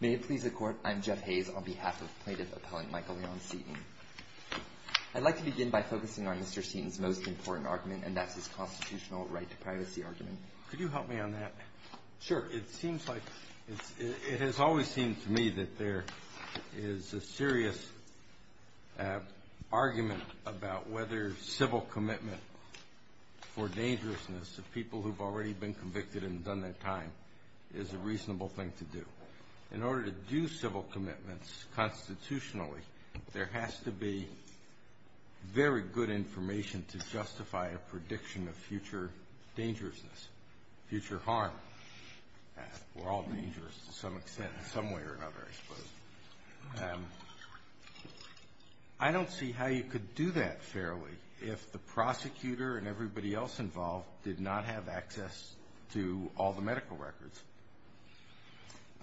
May it please the Court, I'm Jeff Hayes on behalf of plaintiff appellant Michael Leon Seaton. I'd like to begin by focusing on Mr. Seaton's most important argument, and that's his constitutional right to privacy argument. Could you help me on that? Sure. It seems like – it has always seemed to me that there is a serious argument about whether civil commitment for dangerousness of people who've already been convicted and done their time is a reasonable thing to do. In order to do civil commitments constitutionally, there has to be very good information to justify a prediction of future dangerousness, future harm. We're all dangerous to some extent in some way or another, I suppose. I don't see how you could do that fairly if the prosecutor and everybody else involved did not have access to all the medical records.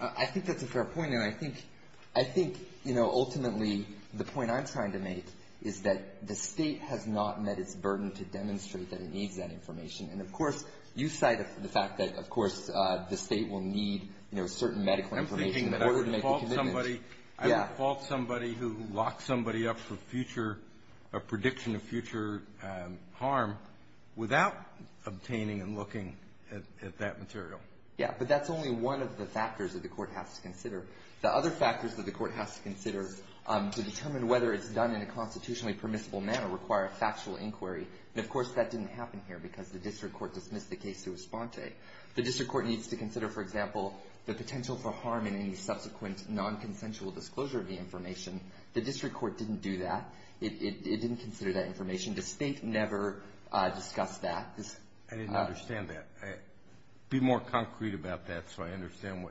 I think that's a fair point. And I think, you know, ultimately the point I'm trying to make is that the State has not met its burden to demonstrate that it needs that information. And, of course, you cite the fact that, of course, the State will need, you know, certain medical information in order to make a commitment. I would fault somebody who locks somebody up for future – a prediction of future harm without obtaining and looking at that material. Yeah. But that's only one of the factors that the Court has to consider. The other factors that the Court has to consider to determine whether it's done in a constitutionally permissible manner require a factual inquiry. And, of course, that didn't happen here because the district court dismissed the case to Esponte. The district court needs to consider, for example, the potential for harm in any subsequent nonconsensual disclosure of the information. The district court didn't do that. It didn't consider that information. The State never discussed that. I didn't understand that. Be more concrete about that so I understand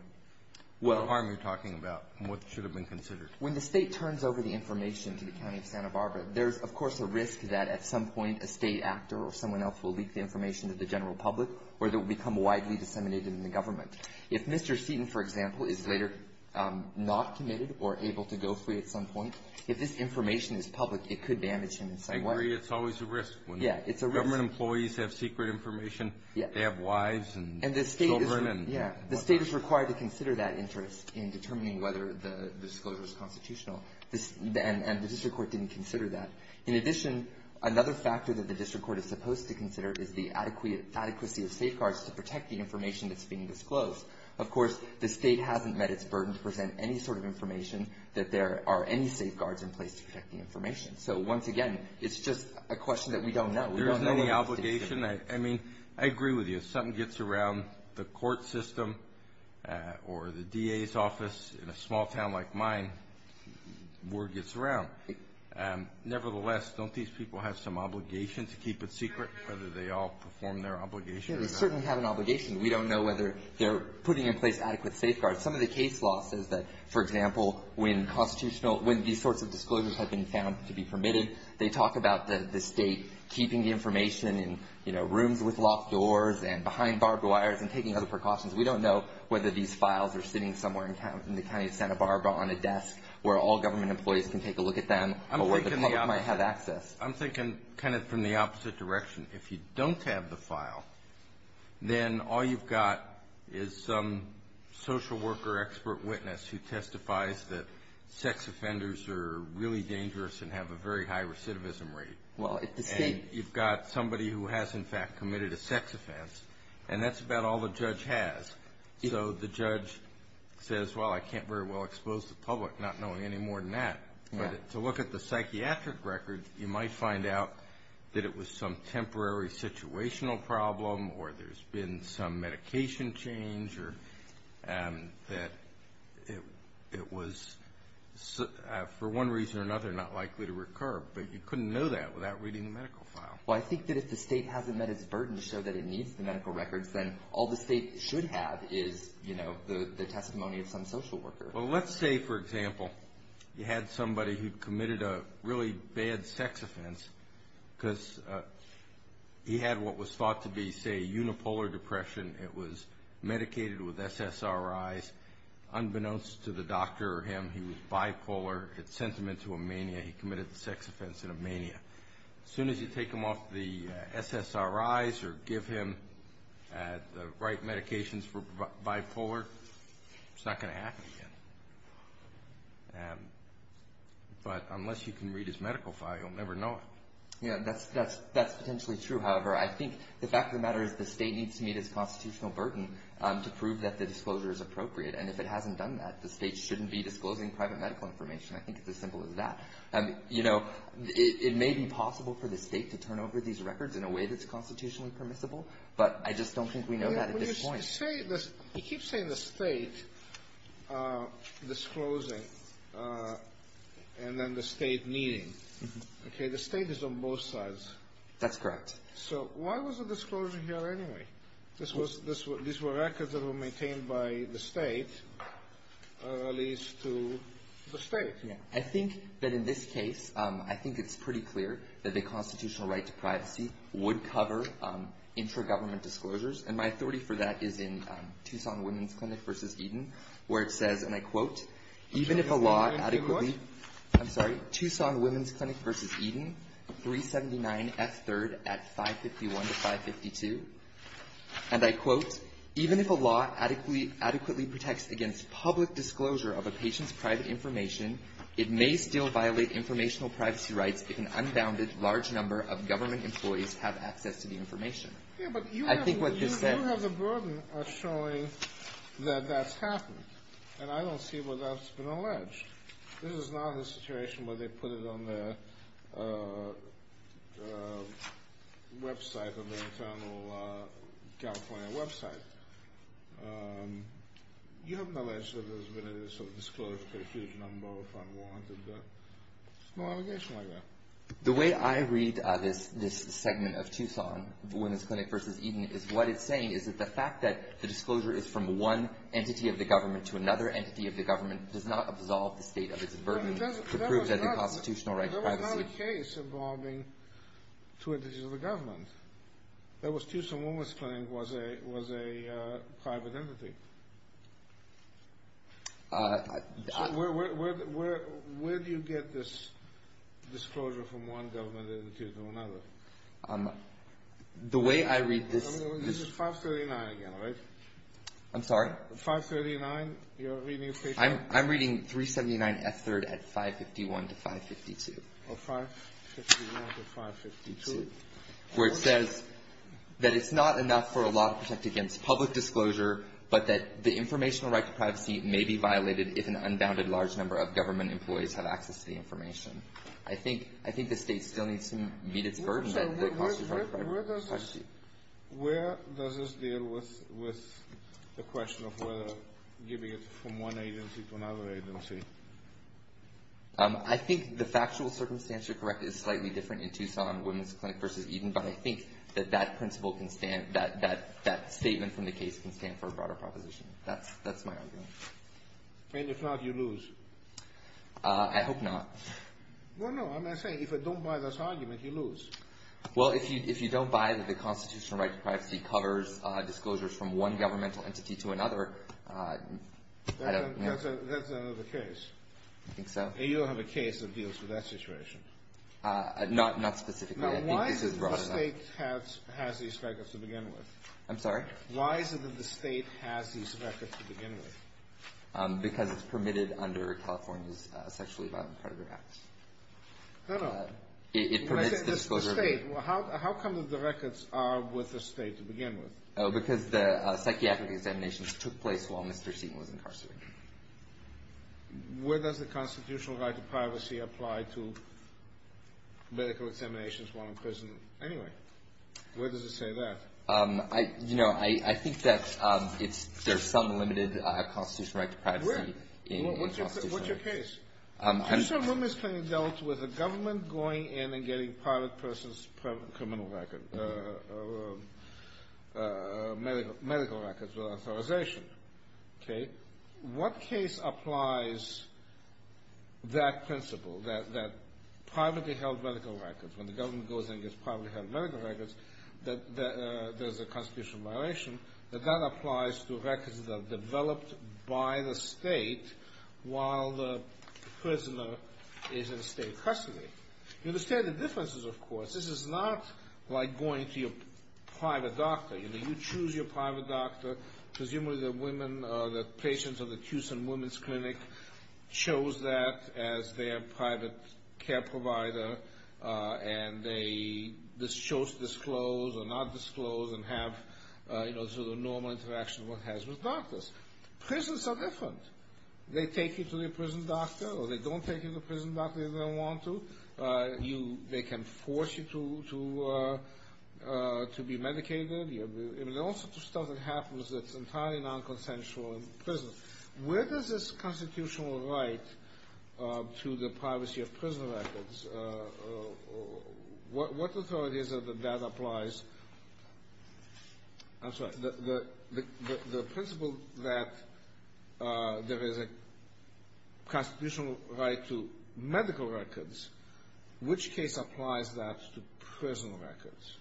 what harm you're talking about and what should have been considered. When the State turns over the information to the County of Santa Barbara, there's, of course, a risk that at some point a State actor or someone else will leak the information to the general public or it will become widely disseminated in the government. If Mr. Seaton, for example, is later not committed or able to go free at some point, if this information is public, it could damage him in some way. I agree it's always a risk. Yeah. It's a risk. Government employees have secret information. Yeah. They have wives and children. And the State is – yeah. The State is required to consider that interest in determining whether the disclosure is constitutional, and the district court didn't consider that. In addition, another factor that the district court is supposed to consider is the adequacy of safeguards to protect the information that's being disclosed. Of course, the State hasn't met its burden to present any sort of information that there are any safeguards in place to protect the information. So, once again, it's just a question that we don't know. There's no obligation. I mean, I agree with you. If something gets around the court system or the DA's office in a small town like mine, word gets around. Nevertheless, don't these people have some obligation to keep it secret, whether they all perform their obligation or not? Yeah, they certainly have an obligation. We don't know whether they're putting in place adequate safeguards. Some of the case law says that, for example, when constitutional – when these sorts of disclosures have been found to be permitted, they talk about the State keeping information in, you know, rooms with locked doors and behind barbed wires and taking other precautions. We don't know whether these files are sitting somewhere in the county of Santa Barbara on a desk, where all government employees can take a look at them or where the public might have access. I'm thinking kind of from the opposite direction. If you don't have the file, then all you've got is some social worker expert witness who testifies that sex offenders are really dangerous and have a very high recidivism rate. Well, if the State – So the judge says, well, I can't very well expose the public, not knowing any more than that. But to look at the psychiatric records, you might find out that it was some temporary situational problem or there's been some medication change or that it was, for one reason or another, not likely to recur. But you couldn't know that without reading the medical file. Well, I think that if the State hasn't met its burden to show that it needs the medical records, then all the State should have is, you know, the testimony of some social worker. Well, let's say, for example, you had somebody who committed a really bad sex offense because he had what was thought to be, say, unipolar depression. It was medicated with SSRIs. Unbeknownst to the doctor or him, he was bipolar. It sent him into a mania. He committed the sex offense in a mania. As soon as you take him off the SSRIs or give him the right medications for bipolar, it's not going to happen again. But unless you can read his medical file, you'll never know it. Yeah, that's potentially true. However, I think the fact of the matter is the State needs to meet its constitutional burden to prove that the disclosure is appropriate. And if it hasn't done that, the State shouldn't be disclosing private medical information. I think it's as simple as that. You know, it may be possible for the State to turn over these records in a way that's constitutionally permissible, but I just don't think we know that at this point. When you say this, you keep saying the State disclosing and then the State meeting. Okay? The State is on both sides. That's correct. So why was the disclosure here anyway? These were records that were maintained by the State, at least to the State. I think that in this case, I think it's pretty clear that the constitutional right to privacy would cover intra-government disclosures. And my authority for that is in Tucson Women's Clinic v. Eden, where it says, and I quote, even if a law adequately – I'm sorry, Tucson Women's Clinic v. Eden, 379F3rd at 551-552. And I quote, even if a law adequately protects against public disclosure of a patient's private information, it may still violate informational privacy rights if an unbounded large number of government employees have access to the information. I think what this says – Yeah, but you have the burden of showing that that's happened. And I don't see where that's been alleged. This is not a situation where they put it on their website, on their internal California website. You haven't alleged that there's been a disclosure of a huge number of unwanted – no allegation like that. The way I read this segment of Tucson Women's Clinic v. Eden is what it's saying is that the fact that the disclosure is from one entity of the government to another entity of the government does not absolve the state of its burden to prove that there's a constitutional right to privacy. There was not a case involving two entities of the government. That was Tucson Women's Clinic was a private entity. So where do you get this disclosure from one government entity to another? The way I read this – This is 539 again, right? I'm sorry? 539, you're reading – I'm reading 379 F3rd at 551 to 552. Oh, 551 to 552. Where it says that it's not enough for a law to protect against public disclosure, but that the informational right to privacy may be violated if an unbounded large number of government employees have access to the information. I think the state still needs to meet its burden. Where does this deal with the question of whether giving it from one agency to another agency? I think the factual circumstance, you're correct, is slightly different in Tucson Women's Clinic v. Eden, but I think that that principle can stand – that statement from the case can stand for a broader proposition. That's my argument. And if not, you lose. I hope not. Well, no, I'm not saying if I don't buy this argument, you lose. Well, if you don't buy that the constitutional right to privacy covers disclosures from one governmental entity to another, I don't – That's another case. I think so. You don't have a case that deals with that situation. Not specifically. Now, why is it that the state has these records to begin with? I'm sorry? Why is it that the state has these records to begin with? Because it's permitted under California's Sexually Violent Predator Act. No, no. It permits the disclosure of – When I say the state, how come that the records are with the state to begin with? Because the psychiatric examinations took place while Mr. Seaton was incarcerated. Where does the constitutional right to privacy apply to medical examinations while in prison anyway? Where does it say that? You know, I think that it's – there's some limited constitutional right to privacy. Where? What's your case? Mr. Lummis can be dealt with a government going in and getting private person's criminal record, medical records without authorization. Okay? What case applies that principle, that privately held medical records, when the government goes in and gets privately held medical records, that there's a constitutional violation, that that applies to records that are developed by the state while the prisoner is in state custody? You understand the differences, of course. This is not like going to your private doctor. You know, you choose your private doctor. Presumably the women – the patients of the Tucson Women's Clinic chose that as their private care provider, and they chose to disclose or not disclose and have, you know, the normal interaction one has with doctors. Prisons are different. They take you to the prison doctor or they don't take you to the prison doctor if they don't want to. They can force you to be medicated. I mean, all sorts of stuff that happens that's entirely nonconsensual in prisons. Where does this constitutional right to the privacy of prison records – what authority is it that that applies? I'm sorry. The principle that there is a constitutional right to medical records, which case applies that to prison records?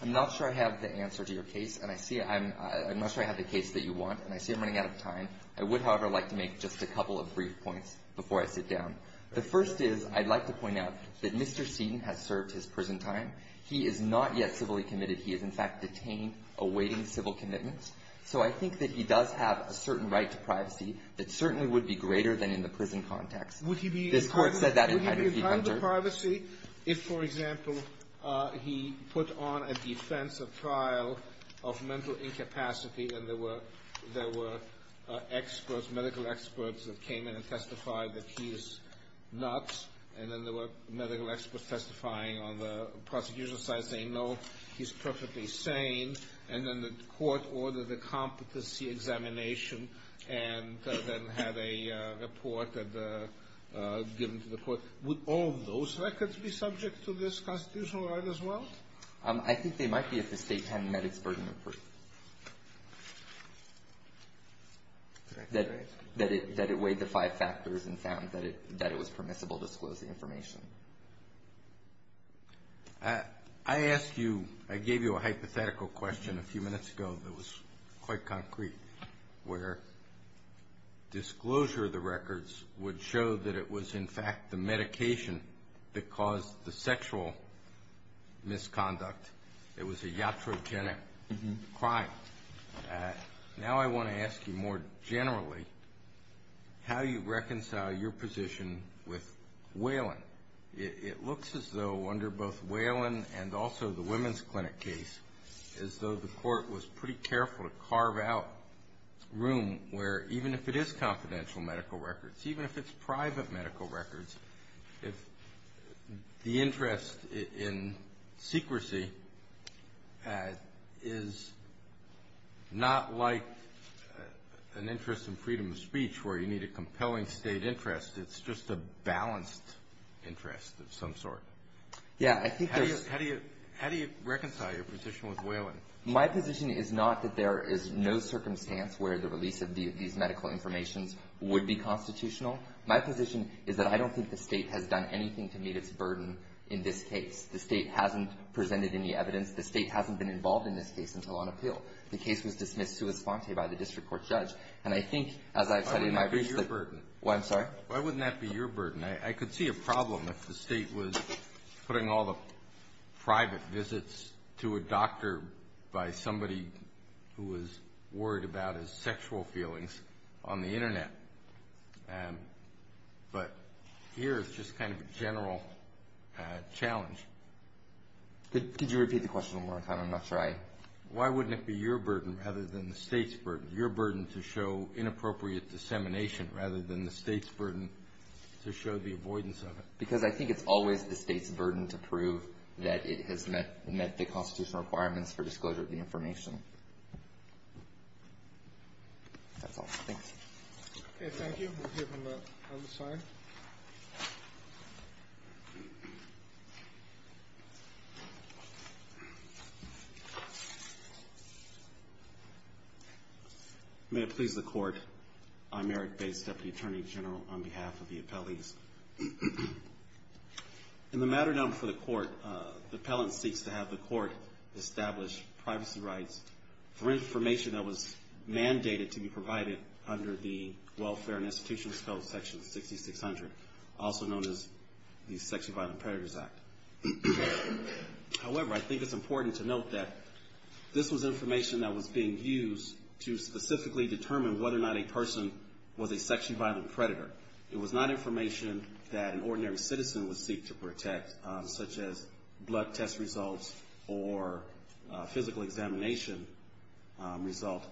I'm not sure I have the answer to your case, and I see – I'm not sure I have the case that you want, and I see I'm running out of time. I would, however, like to make just a couple of brief points before I sit down. The first is I'd like to point out that Mr. Seaton has served his prison time. He is not yet civilly committed. He is, in fact, detained, awaiting civil commitments. So I think that he does have a certain right to privacy that certainly would be greater than in the prison context. Would he be entitled to privacy if, for example, he put on a defense of trial of mental incapacity, and there were experts, medical experts, that came in and testified that he is nuts, and then there were medical experts testifying on the prosecution side saying, no, he's perfectly sane, and then the court ordered a competency examination and then had a report given to the court? Would all of those records be subject to this constitutional right as well? I think they might be if the state hadn't met its burden of proof, that it weighed the five factors and found that it was permissible to disclose the information. I asked you – I gave you a hypothetical question a few minutes ago that was quite concrete, where disclosure of the records would show that it was, in fact, the medication that caused the sexual misconduct. It was a iatrogenic crime. Now I want to ask you more generally how you reconcile your position with Whelan. It looks as though under both Whelan and also the women's clinic case, as though the court was pretty careful to carve out room where even if it is confidential medical records, even if it's private medical records, if the interest in secrecy is not like an interest in freedom of speech where you need a compelling state interest, it's just a balanced interest of some sort. How do you reconcile your position with Whelan? My position is not that there is no circumstance where the release of these medical information would be constitutional. My position is that I don't think the State has done anything to meet its burden in this case. The State hasn't presented any evidence. The State hasn't been involved in this case until on appeal. The case was dismissed sua sponte by the district court judge. And I think, as I've said in my brief – I'm sorry? Why wouldn't that be your burden? I could see a problem if the State was putting all the private visits to a doctor by somebody who was worried about his sexual feelings on the Internet. But here it's just kind of a general challenge. Could you repeat the question one more time? I'm not sure I – Why wouldn't it be your burden rather than the State's burden, your burden to show inappropriate dissemination rather than the State's burden to show the avoidance of it? Because I think it's always the State's burden to prove that it has met the constitutional requirements for disclosure of the information. That's all. Thanks. Okay. Thank you. We'll hear from the other side. May it please the Court, I'm Eric Bates, Deputy Attorney General, on behalf of the appellees. In the matter known for the Court, the appellant seeks to have the Court establish privacy rights for information that was mandated to be provided under the Welfare and Institutional Disclosure Section 6600, also known as the Sexual Violence Predators Act. However, I think it's important to note that this was information that was being used to specifically determine whether or not a person was a sexually violent predator. It was not information that an ordinary citizen would seek to protect, such as blood test results or physical examination result.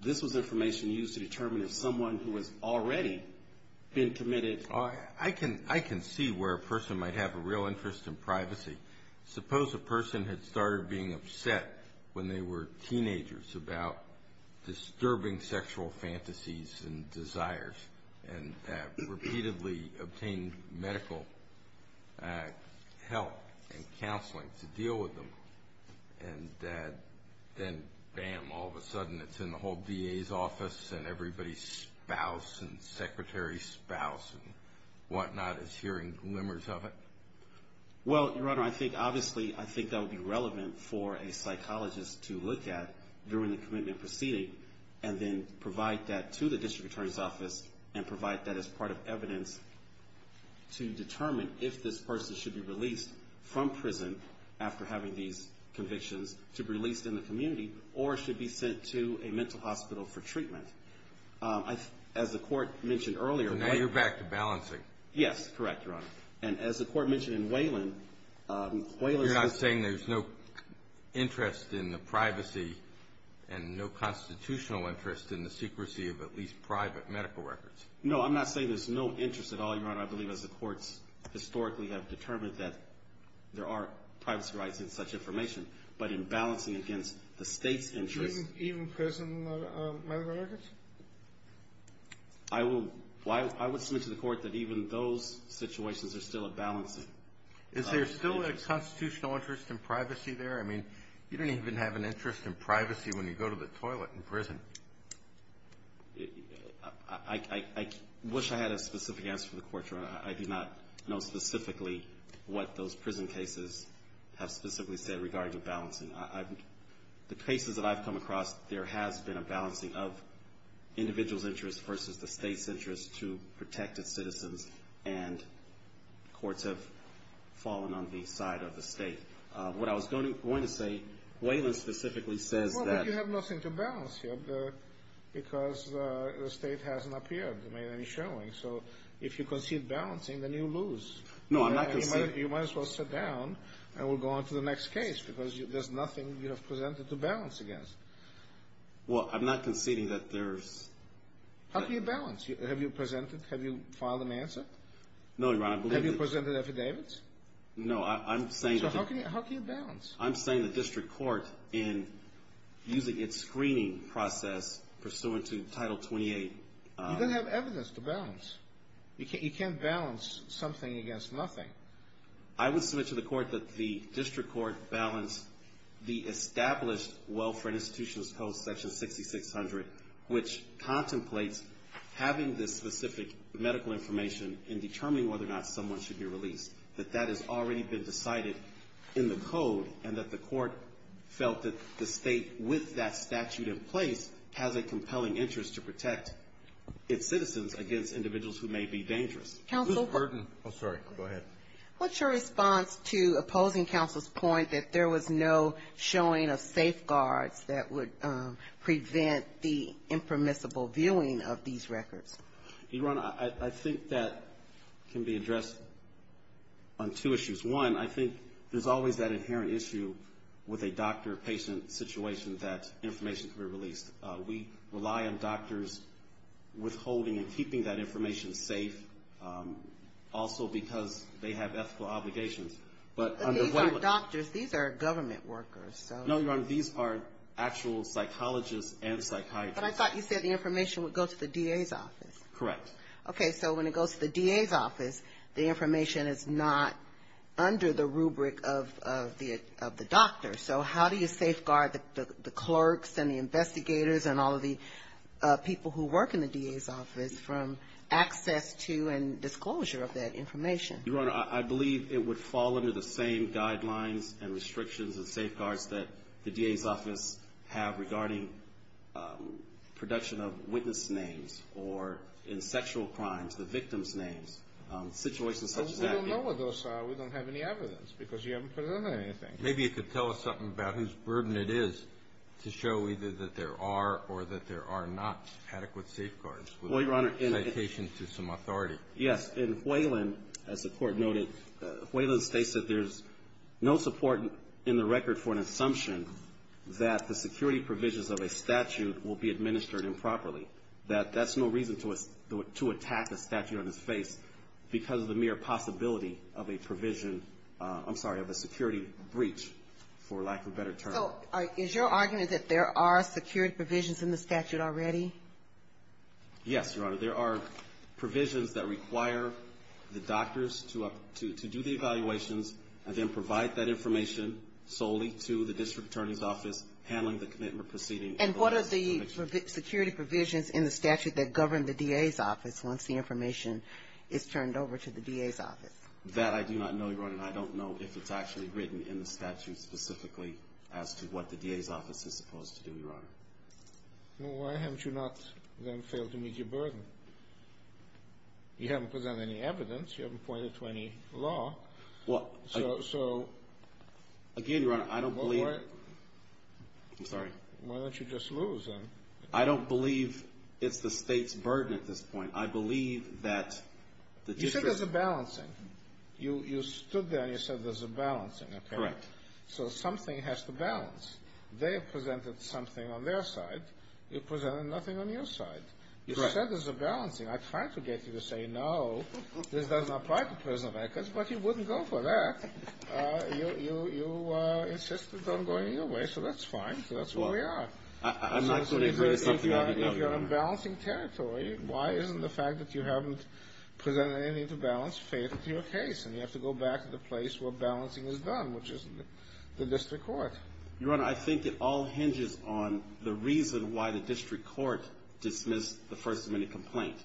This was information used to determine if someone who has already been committed – I can see where a person might have a real interest in privacy. Suppose a person had started being upset when they were teenagers about disturbing sexual fantasies and desires and repeatedly obtained medical help and counseling to deal with them. And then, bam, all of a sudden it's in the whole DA's office and everybody's spouse and secretary's spouse and whatnot is hearing glimmers of it? Well, Your Honor, I think, obviously, I think that would be relevant for a psychologist to look at during the commitment proceeding and then provide that to the District Attorney's Office and provide that as part of evidence to determine if this person should be released from prison after having these convictions to be released in the community or should be sent to a mental hospital for treatment. As the Court mentioned earlier – Now you're back to balancing. Yes, correct, Your Honor. And as the Court mentioned in Whalen – You're not saying there's no interest in the privacy and no constitutional interest in the secrecy of at least private medical records? No, I'm not saying there's no interest at all, Your Honor. I believe as the courts historically have determined that there are privacy rights in such information. But in balancing against the State's interest – Even prison medical records? I will – I would submit to the Court that even those situations are still a balancing. Is there still a constitutional interest in privacy there? I mean, you don't even have an interest in privacy when you go to the toilet in prison. I wish I had a specific answer for the Court, Your Honor. I do not know specifically what those prison cases have specifically said regarding balancing. The cases that I've come across, there has been a balancing of individuals' interests versus the State's interest to protect its citizens, and courts have fallen on the side of the State. What I was going to say, Whalen specifically says that – Well, but you have nothing to balance here because the State hasn't appeared, made any showing. So if you concede balancing, then you lose. No, I'm not conceding – You might as well sit down, and we'll go on to the next case because there's nothing you have presented to balance against. Well, I'm not conceding that there's – How can you balance? Have you presented? Have you filed an answer? No, Your Honor, I believe that – Have you presented affidavits? No, I'm saying – So how can you balance? I'm saying the district court in using its screening process pursuant to Title 28 – You don't have evidence to balance. You can't balance something against nothing. I would submit to the Court that the district court balanced the established Welfare and Institutions Code, Section 6600, which contemplates having this specific medical information in determining whether or not someone should be released, that that has already been decided in the Code, and that the Court felt that the State, with that statute in place, has a compelling interest to protect its citizens against individuals who may be dangerous. Counsel – Ms. Burton. Oh, sorry. Go ahead. What's your response to opposing counsel's point that there was no showing of safeguards that would prevent the impermissible viewing of these records? Your Honor, I think that can be addressed on two issues. One, I think there's always that inherent issue with a doctor-patient situation that information can be released. We rely on doctors withholding and keeping that information safe, also because they have ethical obligations. But these aren't doctors. These are government workers. No, Your Honor. These are actual psychologists and psychiatrists. But I thought you said the information would go to the DA's office. Correct. Okay, so when it goes to the DA's office, the information is not under the rubric of the doctor. So how do you safeguard the clerks and the investigators and all of the people who work in the DA's office from access to and disclosure of that information? Your Honor, I believe it would fall under the same guidelines and restrictions and safeguards that the DA's office have regarding production of witness names or in sexual crimes, the victims' names, situations such as that. But we don't know what those are. We don't have any evidence because you haven't presented anything. Maybe you could tell us something about whose burden it is to show either that there are or that there are not adequate safeguards with citations to some authority. Yes. In Whalen, as the Court noted, Whalen states that there's no support in the record for an assumption that the security provisions of a statute will be administered improperly, that that's no reason to attack a statute on its face because of the mere possibility of a provision, I'm sorry, of a security breach, for lack of a better term. So is your argument that there are security provisions in the statute already? Yes, Your Honor. There are provisions that require the doctors to do the evaluations and then provide that information solely to the district attorney's office handling the commitment proceeding. And what are the security provisions in the statute that govern the DA's office once the information is turned over to the DA's office? That I do not know, Your Honor. I don't know if it's actually written in the statute specifically as to what the DA's office is supposed to do, Your Honor. Well, why haven't you not then failed to meet your burden? You haven't presented any evidence. You haven't pointed to any law. Well, I don't. So. Again, Your Honor, I don't believe. I'm sorry. Why don't you just lose then? I don't believe it's the State's burden at this point. I believe that the district. You said there's a balancing. You stood there and you said there's a balancing, apparently. Correct. So something has to balance. They have presented something on their side. You presented nothing on your side. Correct. You said there's a balancing. I tried to get you to say no. This doesn't apply to prison records, but you wouldn't go for that. You insisted on going your way, so that's fine. So that's who we are. I'm not going to agree to something I didn't agree on, Your Honor. If you're on balancing territory, why isn't the fact that you haven't presented anything to balance fatal to your case and you have to go back to the place where balancing is done, which is the district court? Your Honor, I think it all hinges on the reason why the district court dismissed the First Amendment complaint.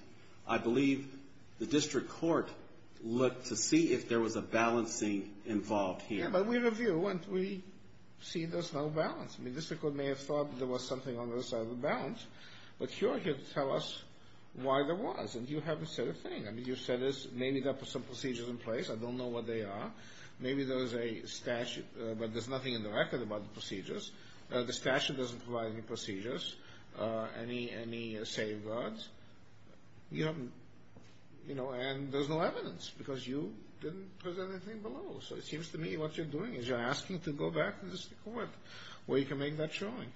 I believe the district court looked to see if there was a balancing involved here. Yeah, but we review and we see there's no balance. I mean, the district court may have thought there was something on the other side of the balance, but you're here to tell us why there was, and you haven't said a thing. I mean, you said maybe there are some procedures in place. I don't know what they are. Maybe there's a statute, but there's nothing in the record about the procedures. The statute doesn't provide any procedures, any safeguards, and there's no evidence because you didn't present anything below. So it seems to me what you're doing is you're asking to go back to the district court where you can make that showing.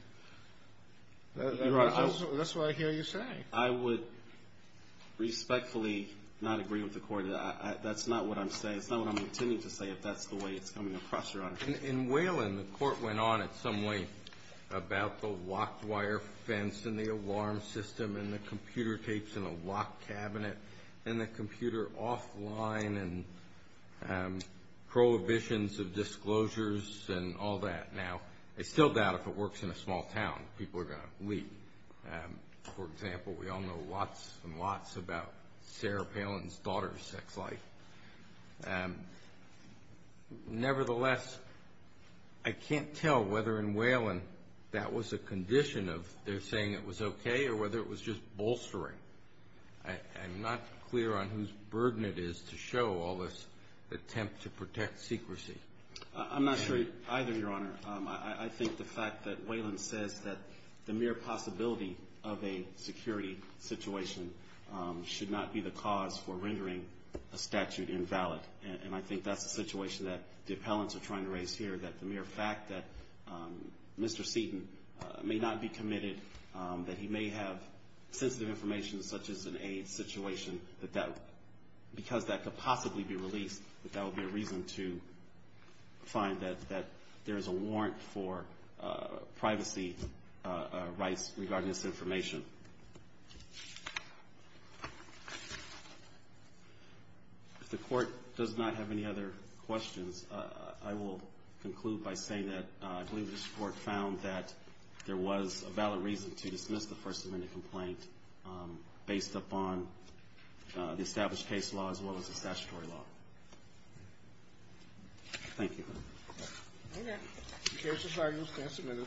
That's what I hear you saying. I would respectfully not agree with the court. That's not what I'm saying. It's not what I'm intending to say if that's the way it's coming across, Your Honor. In Whelan, the court went on in some way about the locked wire fence and the alarm system and the computer tapes in a locked cabinet and the computer offline and prohibitions of disclosures and all that. Now, I still doubt if it works in a small town, people are going to leave. For example, we all know lots and lots about Sarah Palin's daughter's sex life. Nevertheless, I can't tell whether in Whelan that was a condition of their saying it was okay or whether it was just bolstering. I'm not clear on whose burden it is to show all this attempt to protect secrecy. I'm not sure either, Your Honor. I think the fact that Whelan says that the mere possibility of a security situation should not be the cause for rendering a statute invalid, and I think that's the situation that the appellants are trying to raise here, that the mere fact that Mr. Seaton may not be committed, that he may have sensitive information such as an AIDS situation, because that could possibly be released, that that would be a reason to find that there is a warrant for privacy rights regarding this information. If the Court does not have any other questions, I will conclude by saying that I believe this Court found that there was a valid reason to dismiss the First Amendment complaint based upon the established case law as well as the statutory law. Thank you. Okay. The case is argued and submitted.